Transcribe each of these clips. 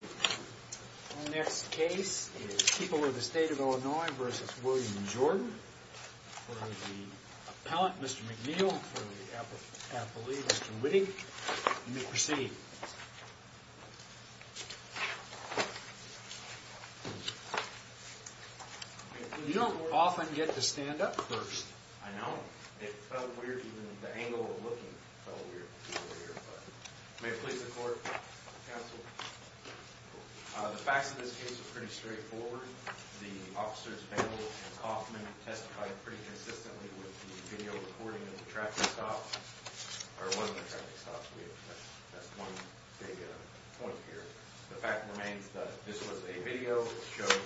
The next case is People of the State of Illinois v. William Jordan for the appellant, Mr. McNeil, for the appellee, Mr. Whitting. You may proceed. You don't often get to stand up first. I know. It felt weird, even the angle of looking felt weird. May it please the court, counsel. The facts of this case are pretty straightforward. The officers, Vandal and Coffman, testified pretty consistently with the video recording of the traffic stop, or one of the traffic stops. That's one big point here. The fact remains that this was a video that showed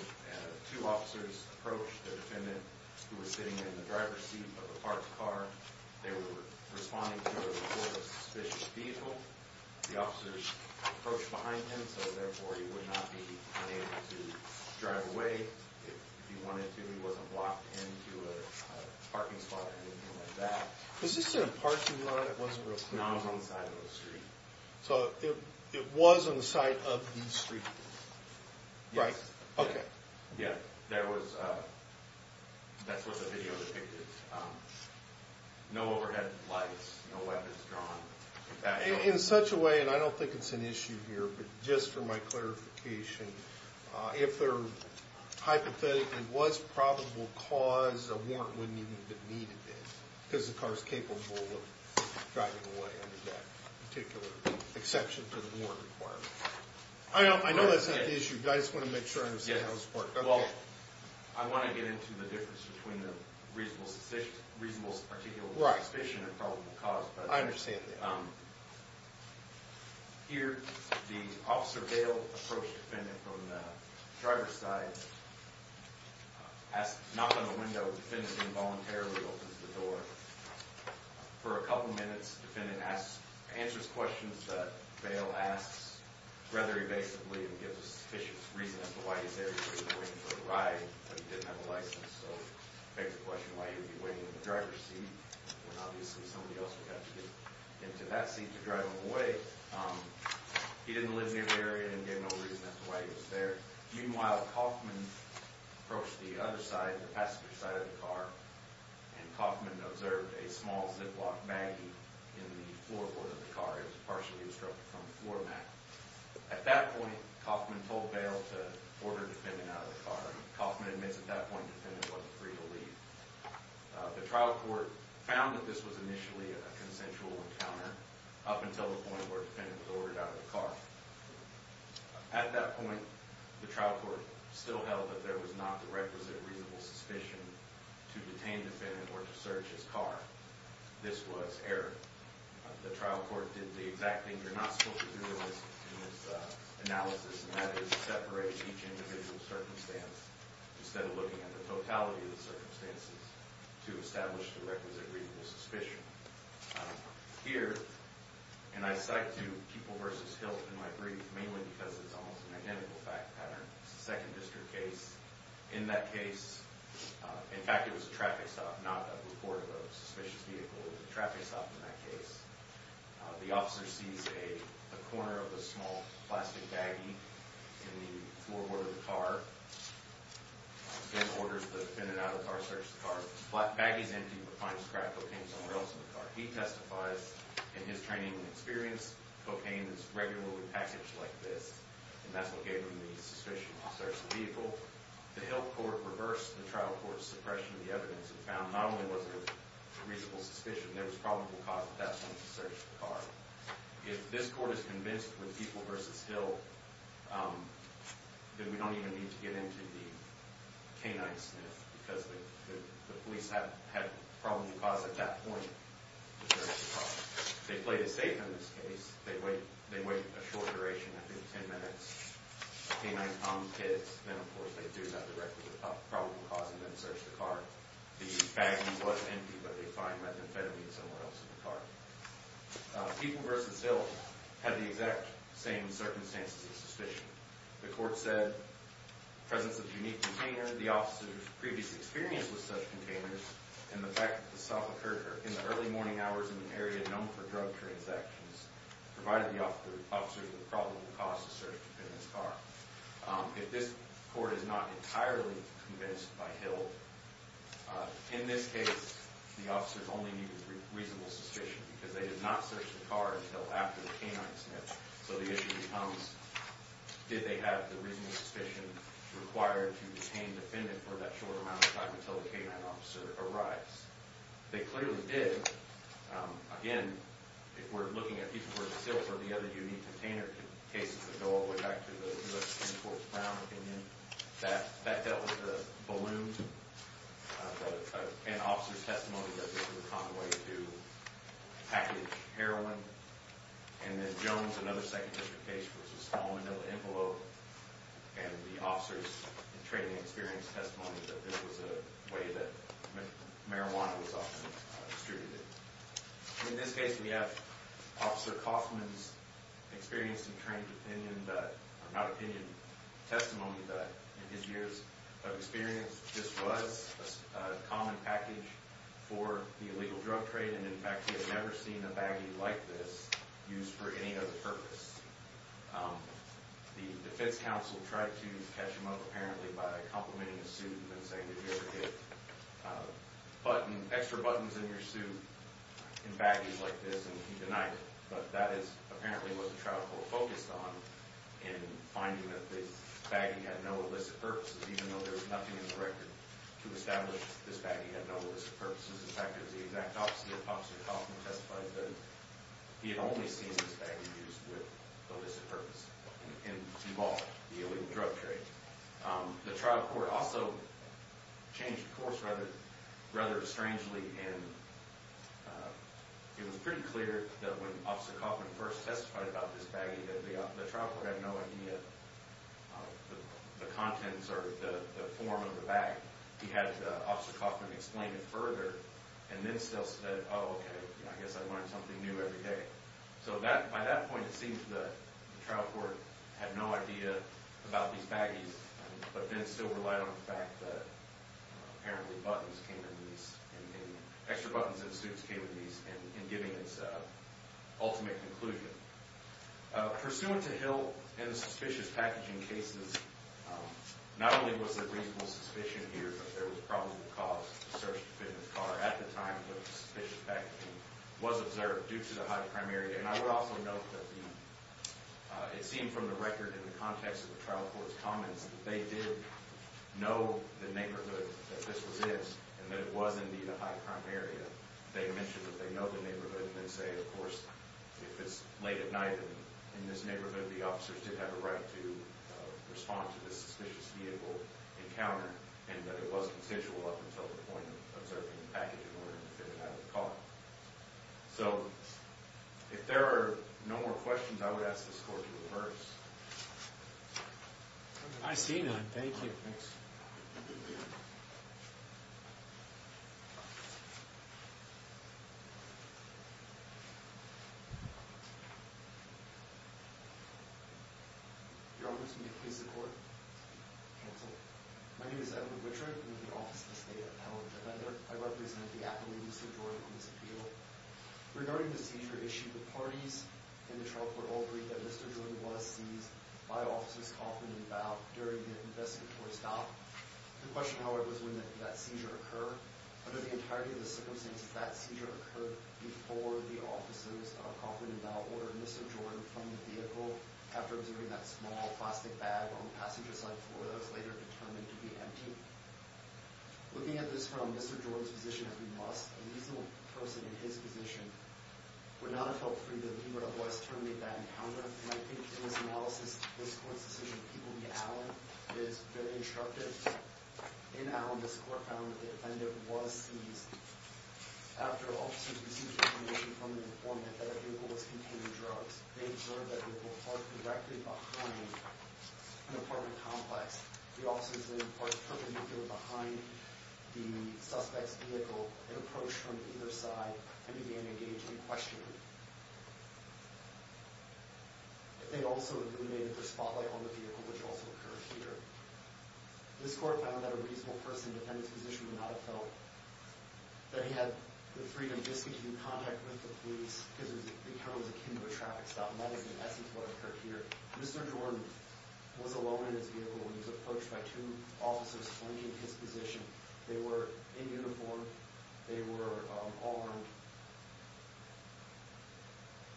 two officers approach the defendant who was sitting in the driver's seat of a parked car. They were responding to a report of a suspicious vehicle. The officers approached behind him, so therefore he would not be unable to drive away if he wanted to. He wasn't blocked into a parking spot or anything like that. Was this in a parking lot? It wasn't real clear. No, it was on the side of the street. So it was on the side of the street, right? Yes. Okay. Yeah, that's what the video depicted. No overhead lights, no weapons drawn. In such a way, and I don't think it's an issue here, but just for my clarification, if there hypothetically was probable cause, a warrant wouldn't even be needed then, because the car's capable of driving away under that particular exception to the warrant requirement. I know that's not the issue. I just want to make sure I understand how this worked. Well, I want to get into the difference between the reasonable suspicion and probable cause. I understand that. Here, the Officer Bale approached the defendant from the driver's side, knocked on the window, and the defendant involuntarily opens the door. For a couple minutes, the defendant answers questions that Bale asks rather evasively and gives a sufficient reason as to why he's there. He was waiting for a ride, but he didn't have a license, so he begs the question why he would be waiting in the driver's seat when obviously somebody else would have to get into that seat to drive him away. He didn't live near the area and gave no reason as to why he was there. Meanwhile, Kaufman approached the other side, the passenger side of the car, and Kaufman observed a small ziplock baggie in the floorboard of the car. It was partially obstructed from the floor mat. At that point, Kaufman told Bale to order the defendant out of the car. Kaufman admits at that point the defendant was free to leave. The trial court found that this was initially a consensual encounter up until the point where the defendant was ordered out of the car. At that point, the trial court still held that there was not the requisite reasonable suspicion to detain the defendant or to search his car. This was error. The trial court did the exact thing you're not supposed to do in this analysis, and that is separate each individual circumstance instead of looking at the totality of the circumstances to establish the requisite reasonable suspicion. Here, and I cite to you, Kupel v. Hilt in my brief, mainly because it's almost an identical fact pattern. It's a Second District case. In that case, in fact, it was a traffic stop, not a report of a suspicious vehicle. It was a traffic stop in that case. The officer sees a corner of a small plastic baggie in the floorboard of the car and orders the defendant out of the car to search the car. The baggie's empty, but finds crack cocaine somewhere else in the car. He testifies in his training and experience, cocaine is regularly packaged like this, and that's what gave him the suspicion to search the vehicle. The Hilt court reversed the trial court's suppression of the evidence and found not only was there a reasonable suspicion, there was probable cause at that point to search the car. If this court is convinced with Kupel v. Hilt that we don't even need to get into the canine sniff because the police have probable cause at that point to search the car. If they play it safe in this case, they wait a short duration, I think 10 minutes, canine-armed kids, then of course they do have the record of probable cause and then search the car. The baggie was empty, but they find methamphetamine somewhere else in the car. Kupel v. Hilt had the exact same circumstances of suspicion. The court said presence of unique container, the officer's previous experience with such containers, and the fact that the stop occurred in the early morning hours in an area known for drug transactions provided the officers with probable cause to search the defendant's car. If this court is not entirely convinced by Hilt, in this case the officers only need a reasonable suspicion because they did not search the car until after the canine sniff, so the issue becomes did they have the reasonable suspicion required to detain the defendant for that short amount of time until the canine officer arrives. They clearly did. Again, if we're looking at pieces worth of silver, the other unique container cases that go all the way back to the 10-quart brown opinion, that dealt with the balloons. An officer's testimony that this was a common way to package heroin. And then Jones, another second district case, was a small manila envelope, and the officer's training and experience testimony that this was a way that marijuana was often distributed. In this case, we have Officer Kaufman's experience and trained opinion, not opinion, testimony that in his years of experience this was a common package for the illegal drug trade, and in fact he had never seen a baggie like this used for any other purpose. The defense counsel tried to catch him up apparently by complimenting his suit and saying, did you ever get extra buttons in your suit in baggies like this? And he denied it. But that is apparently what the trial court focused on in finding that this baggie had no illicit purposes, even though there was nothing in the record to establish this baggie had no illicit purposes. In fact, it was the exact opposite. Officer Kaufman testified that he had only seen this baggie used with illicit purposes in Duval, the illegal drug trade. The trial court also changed course rather strangely, and it was pretty clear that when Officer Kaufman first testified about this baggie that the trial court had no idea of the contents or the form of the bag. He had Officer Kaufman explain it further, and then still said, oh, okay, I guess I learned something new every day. So by that point, it seems the trial court had no idea about these baggies, but then still relied on the fact that apparently buttons came in these, extra buttons in suits came in these in giving its ultimate conclusion. Pursuant to Hill and the suspicious packaging cases, not only was there reasonable suspicion here, but there was probable cause to search the defendant's car at the time that the suspicious packaging was observed due to the high crime area. And I would also note that it seemed from the record in the context of the trial court's comments that they did know the neighborhood that this was in and that it was indeed a high crime area. They mentioned that they know the neighborhood and then say, of course, if it's late at night in this neighborhood, the officers did have a right to respond to this suspicious vehicle encounter and that it was consensual up until the point of observing the packaging in order to get it out of the car. So if there are no more questions, I would ask this court to reverse. I see none. Thank you. Thanks. Your Honor, this will be a case of court. Cancel. My name is Edward Wichert. I'm with the Office of the State Appellant Defender. I represent the appellee, Mr. Jordan, on this appeal. Regarding the seizure issue, the parties in the trial court all agreed that Mr. Jordan was seized by officers confident about during the investigatory stop. The question, however, is when did that seizure occur? Under the entirety of the circumstances, that seizure occurred before the officers confident about or Mr. Jordan from the vehicle after observing that small plastic bag on the passenger side floor that was later determined to be empty. Looking at this from Mr. Jordan's position as we must, a reasonable person in his position would not have felt free to leave or otherwise terminate that encounter. And I think in this analysis, this court's decision to keep him in the alley is very instructive. In Allen, this court found that the offender was seized after officers received information from an informant that a vehicle was containing drugs. They observed that the vehicle parked directly behind an apartment complex. The officers then parked perpendicularly behind the suspect's vehicle and approached from either side and began engaging in questioning. They also illuminated their spotlight on the vehicle, which also occurred here. This court found that a reasonable person in the defendant's position would not have felt that he had the freedom just to keep in contact with the police because the encounter was akin to a traffic stop. And that is, in essence, what occurred here. Mr. Jordan was alone in his vehicle when he was approached by two officers flanking his position. They were in uniform. They were armed.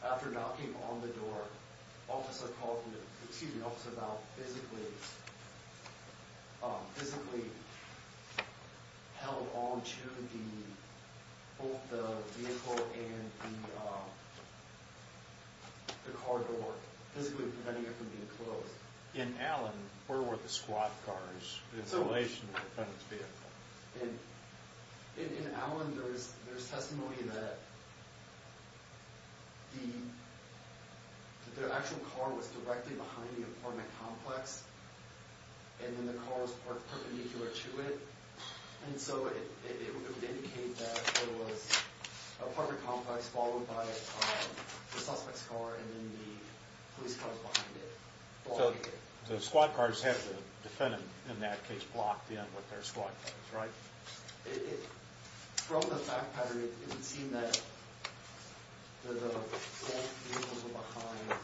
After knocking on the door, officers called him to, excuse me, physically held onto both the vehicle and the car door, physically preventing it from being closed. In Allen, where were the squat cars? It's in relation to the defendant's vehicle. In Allen, there is testimony that the actual car was directly behind the apartment complex and then the car was parked perpendicular to it. And so it would indicate that there was an apartment complex followed by the suspect's car and then the police cars behind it. So the squat cars had the defendant, in that case, blocked in with their squat cars, right? From the fact pattern, it would seem that the squat vehicles were behind.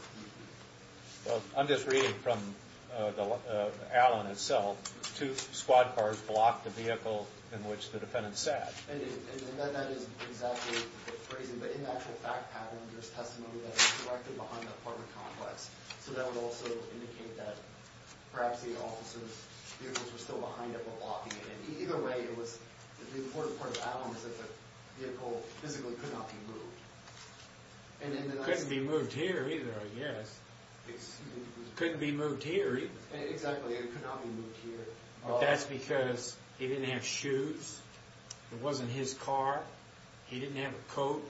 Well, I'm just reading from Allen itself. Two squat cars blocked the vehicle in which the defendant sat. And that is exactly the phrasing. But in the actual fact pattern, there's testimony that it was directly behind the apartment complex. So that would also indicate that perhaps the officers' vehicles were still behind it but blocking it. And either way, it was, the important part of Allen was that the vehicle physically could not be moved. It couldn't be moved here either, I guess. It couldn't be moved here. Exactly, it could not be moved here. That's because he didn't have shoes. It wasn't his car. He didn't have a coat.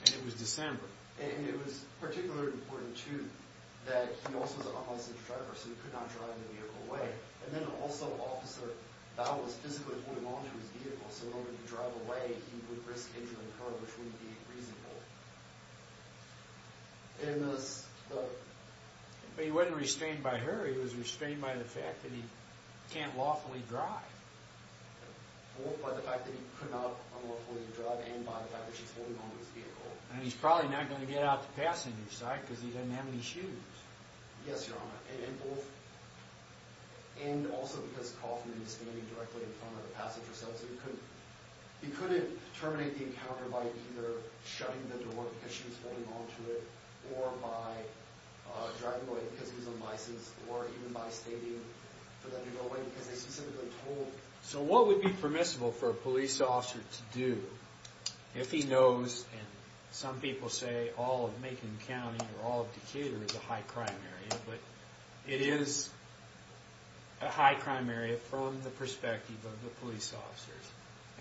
And it was December. And it was particularly important, too, that he also was an unlicensed driver, so he could not drive the vehicle away. And then also, Officer Bow was physically holding onto his vehicle, so whenever he'd drive away, he would risk injuring her, which wouldn't be reasonable. And the... But he wasn't restrained by her. He was restrained by the fact that he can't lawfully drive. Both by the fact that he could not unlawfully drive and by the fact that she's holding onto his vehicle. And he's probably not going to get out the passenger side because he doesn't have any shoes. Yes, Your Honor. And both... And also because Coffman is standing directly in front of the passenger side, because he couldn't terminate the encounter by either shutting the door, because she was holding onto it, or by driving away because he's unlicensed, or even by stating for them to go away, because they specifically told... So what would be permissible for a police officer to do if he knows, and some people say, all of Macon County or all of Decatur is a high-crime area, but it is a high-crime area from the perspective of the police officers.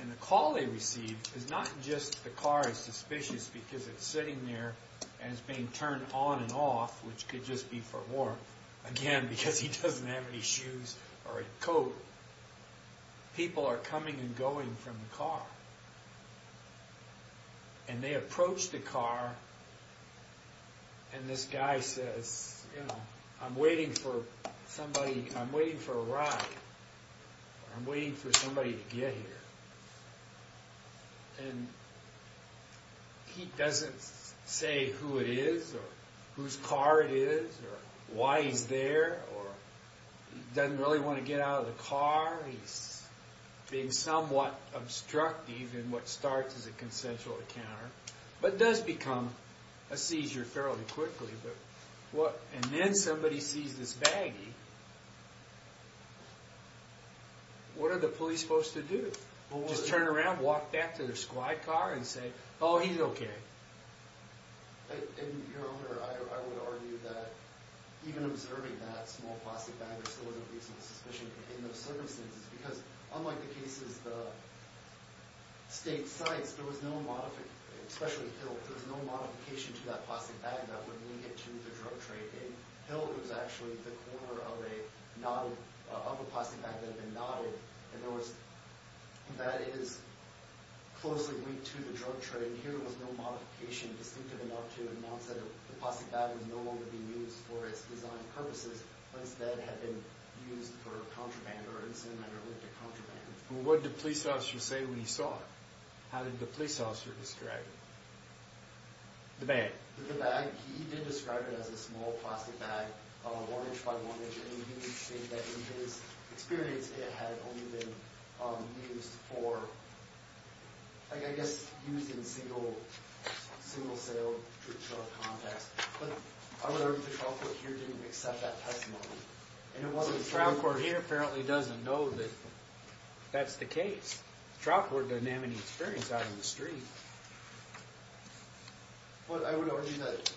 And the call they receive is not just the car is suspicious because it's sitting there and it's being turned on and off, which could just be for war, again, because he doesn't have any shoes or a coat. People are coming and going from the car. And they approach the car, and this guy says, you know, I'm waiting for somebody, I'm waiting for a ride. I'm waiting for somebody to get here. And he doesn't say who it is or whose car it is, or why he's there, or he doesn't really want to get out of the car. He's being somewhat obstructive in what starts as a consensual encounter, but does become a seizure fairly quickly. And then somebody sees this baggie. What are the police supposed to do? Just turn around, walk back to their squad car, and say, oh, he's okay. And, Your Honor, I would argue that even observing that small plastic bag there still is a reasonable suspicion in those circumstances because unlike the cases the state sites, there was no modification, especially Hill, there was no modification to that plastic bag that would lead it to the drug trade. In Hill, it was actually the corner of a plastic bag that had been knotted. In other words, that is closely linked to the drug trade. And here was no modification distinctive enough to announce that the plastic bag was no longer being used for its design purposes, but instead had been used for contraband or in some manner linked to contraband. Well, what did the police officer say when he saw it? How did the police officer describe it? The bag. The bag. He did describe it as a small plastic bag, one inch by one inch, and he did state that in his experience it had only been used for, I guess, used in single-sale contacts. But I would argue the trial court here didn't accept that testimony. The trial court here apparently doesn't know that that's the case. The trial court doesn't have any experience out in the street. But I would argue that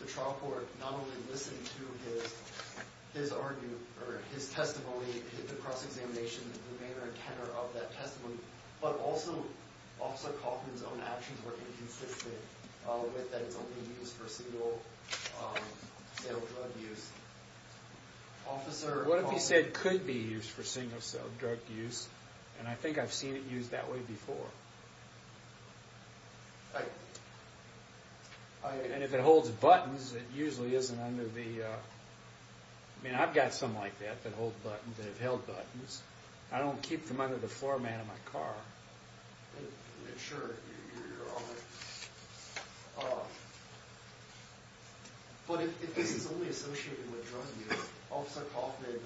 the trial court not only listened to his testimony, not only did the cross-examination in the manner and tenor of that testimony, but also Officer Kaufman's own actions were inconsistent with that it's only used for single-sale drug use. What if he said it could be used for single-sale drug use, and I think I've seen it used that way before? And if it holds buttons, it usually isn't under the... I mean, I've got some like that that hold buttons, that have held buttons. I don't keep them under the floor mat of my car. Sure, you're all right. But if this is only associated with drug use, Officer Kaufman did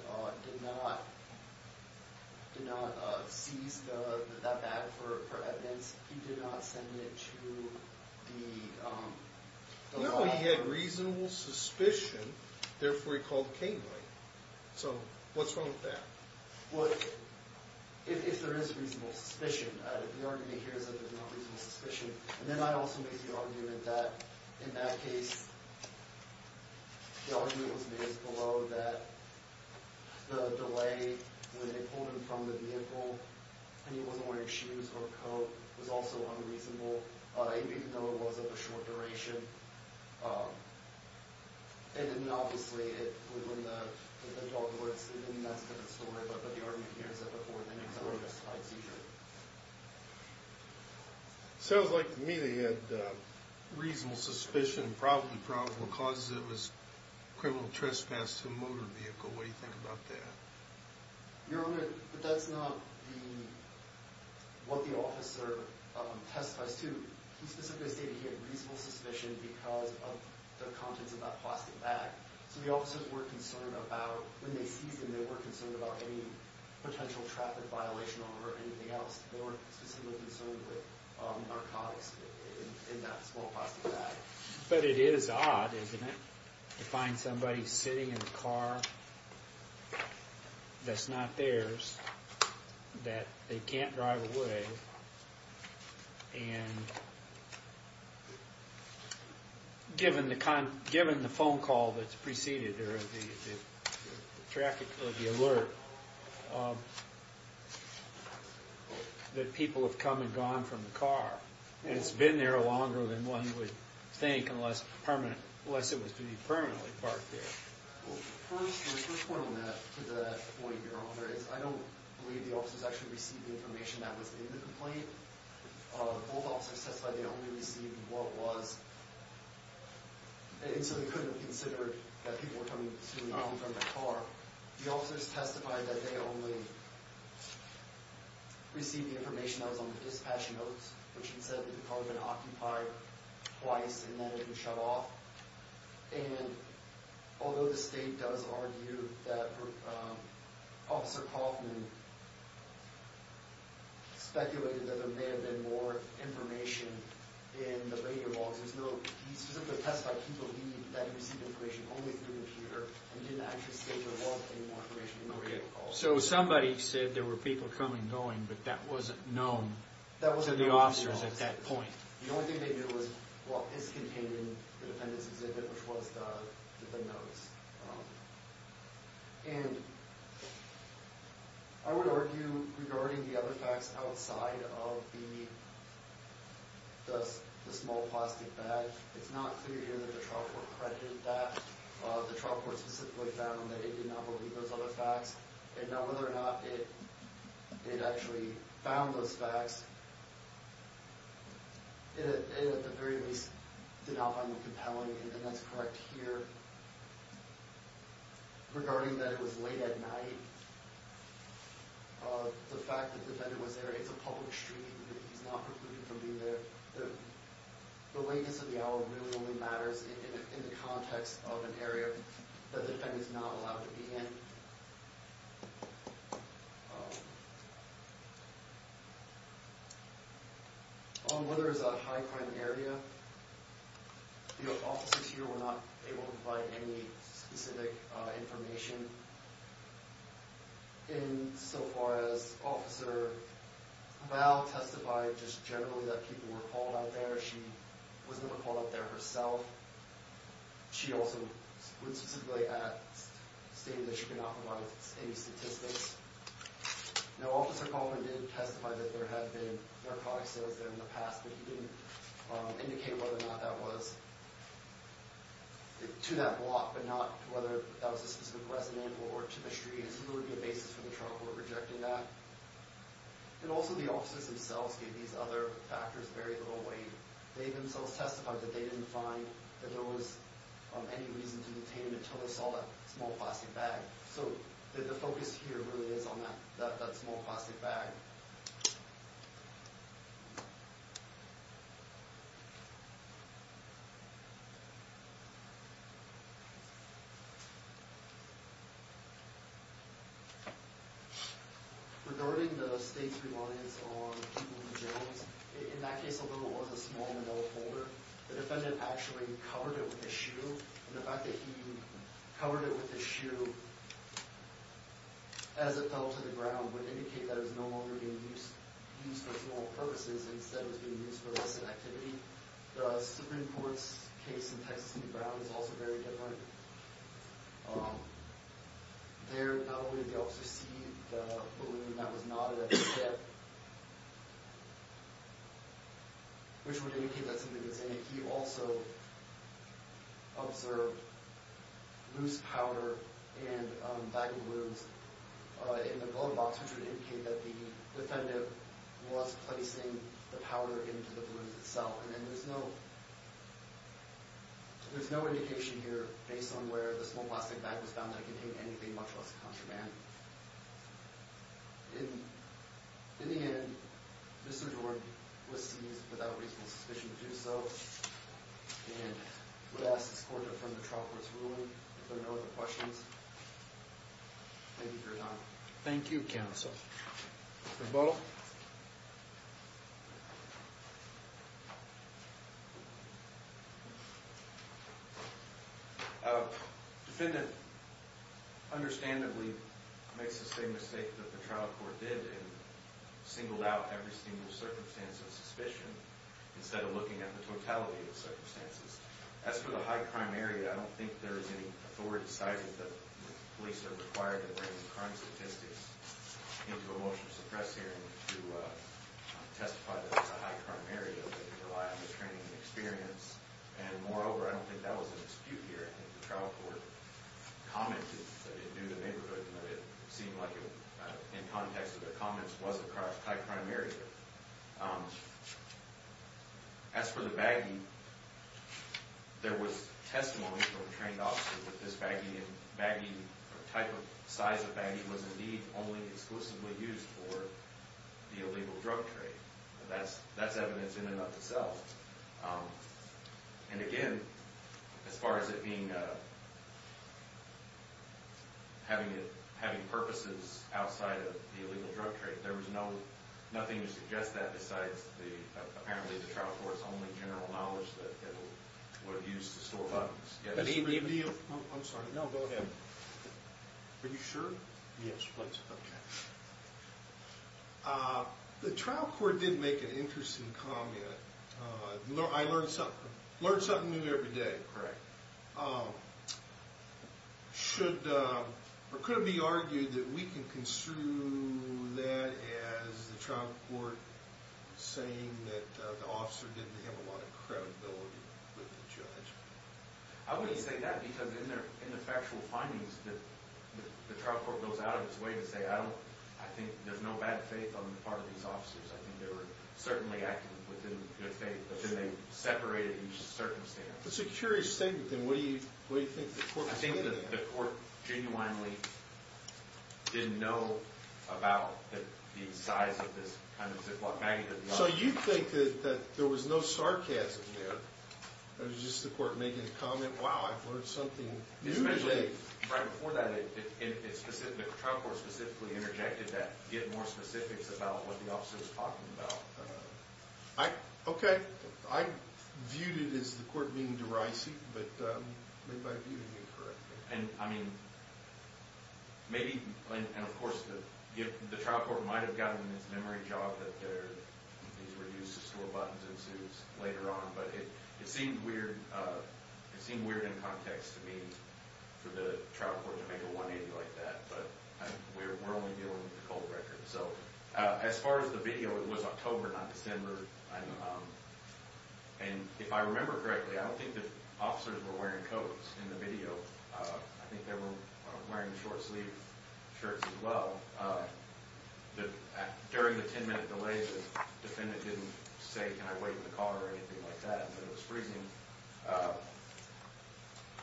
not seize that bag for evidence. He did not send it to the... No, he had reasonable suspicion. Therefore, he called Cain, right? So what's wrong with that? Well, if there is reasonable suspicion, the argument here is that there's not reasonable suspicion. And then I also make the argument that, in that case, the argument was made as below that the delay when they pulled him from the vehicle and he wasn't wearing shoes or a coat was also unreasonable, even though it was of a short duration. And then, obviously, when the dog was... I mean, that's a different story, but the argument here is that before the next hour, he must have had a seizure. Sounds like to me that he had reasonable suspicion, probably probable cause, that it was criminal trespass to a motor vehicle. What do you think about that? Your Honor, that's not what the officer testifies to. He specifically stated he had reasonable suspicion because of the contents of that plastic bag. So the officers were concerned about... When they seized him, they weren't concerned about any potential traffic violation or anything else. They were specifically concerned with narcotics in that small plastic bag. But it is odd, isn't it, to find somebody sitting in a car that's not theirs, that they can't drive away, and given the phone call that's preceded or the traffic or the alert, that people have come and gone from the car, and it's been there longer than one would think unless it was to be permanently parked there. First point on that, to that point, Your Honor, is I don't believe the officers actually received the information that was in the complaint. Both officers testified they only received what was... And so they couldn't have considered that people were coming from the car. The officers testified that they only received the information that was on the dispatch notes, which had said that the car had been occupied twice and that it was shut off. And although the state does argue that Officer Kaufman speculated that there may have been more information in the radio logs, there's no... He specifically testified he believed that he received information only through a computer and didn't actually state in the logs any more information in the radio calls. So somebody said there were people coming and going, but that wasn't known to the officers at that point. The only thing they knew was, well, it's contained in the defendant's exhibit, which was the notes. And I would argue regarding the other facts outside of the small plastic bag, it's not clear here that the trial court credited that. The trial court specifically found that it did not believe those other facts. And now whether or not it actually found those facts, it at the very least did not find them compelling and that's correct here. Regarding that it was late at night, the fact that the defendant was there, it's a public streaming unit, he's not precluded from being there. The lateness of the hour really only matters in the context of an area that the defendant's not allowed to be in. Whether it's a high-crime area, the officers here were not able to provide any specific information. And so far as Officer Val testified, just generally that people were called out there, she was never called out there herself. She also went specifically at stating that she could not provide any statistics. Now, Officer Kaufman did testify that there had been narcotics sales there in the past, but he didn't indicate whether or not that was to that block, but not whether that was a specific resident or to the street. So there would be a basis for the trial court rejecting that. And also the officers themselves gave these other factors very little weight. They themselves testified that they didn't find that there was any reason to detain them until they saw that small plastic bag. So the focus here really is on that small plastic bag. Okay. Regarding the state's reliance on people in the jails, in that case, although it was a small envelope holder, the defendant actually covered it with his shoe. And the fact that he covered it with his shoe as it fell to the ground would indicate that it was no longer being used for small purposes and instead was being used for less activity. The Supreme Court's case in Texas v. Brown is also very different. There, not only did the officer see the balloon that was knotted at the tip, which would indicate that something was in it, he also observed loose powder and a bag of balloons in the glove box, which would indicate that the defendant was placing the powder into the balloon itself. And then there's no indication here based on where the small plastic bag was found that contained anything much less contraband. In the end, Mr. Jordan was seized without reasonable suspicion to do so and would ask his court to affirm the trial court's ruling. If there are no other questions, thank you for your time. Thank you, counsel. Mr. Butler? Defendant understandably makes the same mistake that the trial court did and singled out every single circumstance of suspicion instead of looking at the totality of the circumstances. As for the high crime area, I don't think there is any authority decided that the police are required to bring crime statistics into a motion to suppress hearing to testify that it's a high crime area that they rely on the training and experience. And moreover, I don't think that was an dispute here. I think the trial court commented that it knew the neighborhood and that it seemed like in context of their comments it was a high crime area. As for the baggie, there was testimony from a trained officer that this type of size of baggie was indeed only exclusively used for the illegal drug trade. That's evidence in and of itself. And again, as far as it being... having purposes outside of the illegal drug trade, there was nothing to suggest that besides apparently the trial court's only general knowledge that it would have used to store bottles. I'm sorry. No, go ahead. Are you sure? Yes, please. Okay. The trial court did make an interesting comment. I learn something new every day. Correct. Should... Or could it be argued that we can construe that as the trial court saying that the officer didn't have a lot of credibility with the judge? I wouldn't say that because in the factual findings the trial court goes out of its way to say I think there's no bad faith on the part of these officers. I think they were certainly acting within good faith. They separated each circumstance. That's a curious statement. What do you think the court made of that? I think the court genuinely didn't know about the size of this kind of Ziploc baggie. So you think that there was no sarcasm there? It was just the court making the comment wow, I've learned something new today. Especially right before that the trial court specifically interjected that give more specifics about what the officer was talking about. Okay. I viewed it as the court being derisive but maybe I viewed it incorrectly. And I mean maybe... And of course the trial court might have gotten its memory job that these reduces to a button ensues later on. But it seemed weird in context to me for the trial court to make a 180 like that. But we're only dealing with the cold record. So as far as the video, it was October, not December. And if I remember correctly I don't think the officers were wearing coats in the video. I think they were wearing short-sleeved shirts as well. During the 10 minute delay the defendant didn't say can I wait in the car or anything like that. But it was freezing.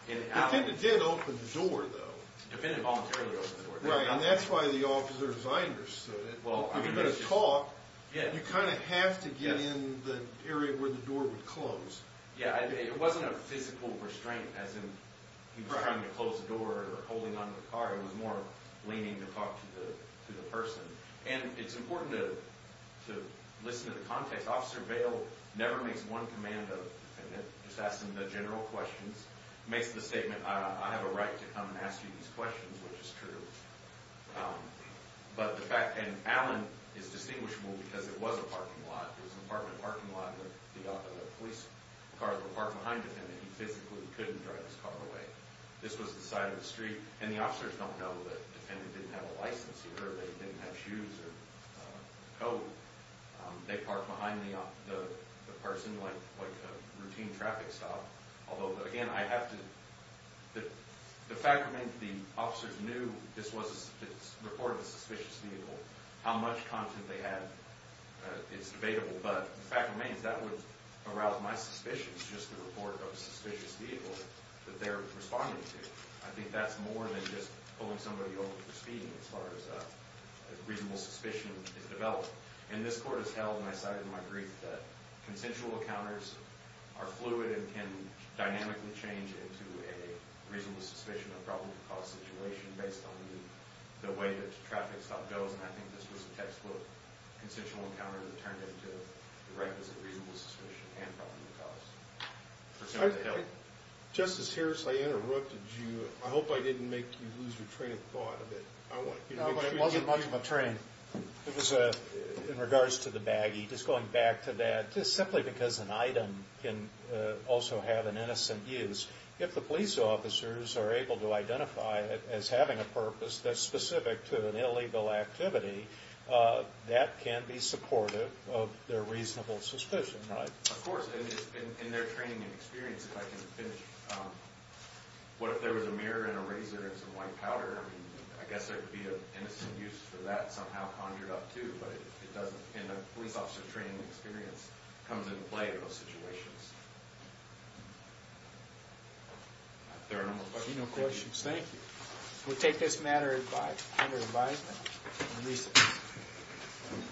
The defendant did open the door though. The defendant voluntarily opened the door. Right, and that's why the officer's eye understood it. You could talk but you kind of have to get in the area where the door would close. Yeah, it wasn't a physical restraint as in he was trying to close the door or holding onto the car. It was more leaning to talk to the person. And it's important to listen to the context. Officer Vail never makes one command of the defendant. He just asks him the general questions. He makes the statement I have a right to come and ask you these questions which is true. But the fact, and Allen is distinguishable because it was a parking lot. It was an apartment parking lot where the police cars were parked behind the defendant. He physically couldn't drive his car away. This was the side of the street. And the officers don't know that the defendant didn't have a license either. They didn't have shoes or a coat. They parked behind the person like a routine traffic stop. Although, again, I have to the fact remains the officers knew this was a reported suspicious vehicle. How much content they had is debatable. But the fact remains that would arouse my suspicions just the report of a suspicious vehicle that they're responding to. I think that's more than just pulling somebody over for speeding as far as reasonable suspicion is developed. And this court has held, and I cited in my brief, that consensual encounters are fluid and can dynamically change into a reasonable suspicion or problem to cause situation based on the way that the traffic stop goes. And I think this was a textbook consensual encounter that turned into the right was a reasonable suspicion and problem to cause. Justice Harris, I interrupted you. I hope I didn't make you lose your train of thought a bit. It wasn't much of a train. It was in regards to the baggie. Just going back to that, just simply because an item can also have an innocent use. If the police officers are able to identify it as having a purpose that's specific to an illegal activity, that can be supportive of their reasonable suspicion, right? Of course. In their training and experience, if I can finish, what if there was a mirror and a razor and some white powder? I mean, I guess there would be an innocent use for that somehow conjured up too. But it doesn't, in a police officer training experience, comes into play in those situations. If there are no more questions, thank you. We'll take this matter under advisement.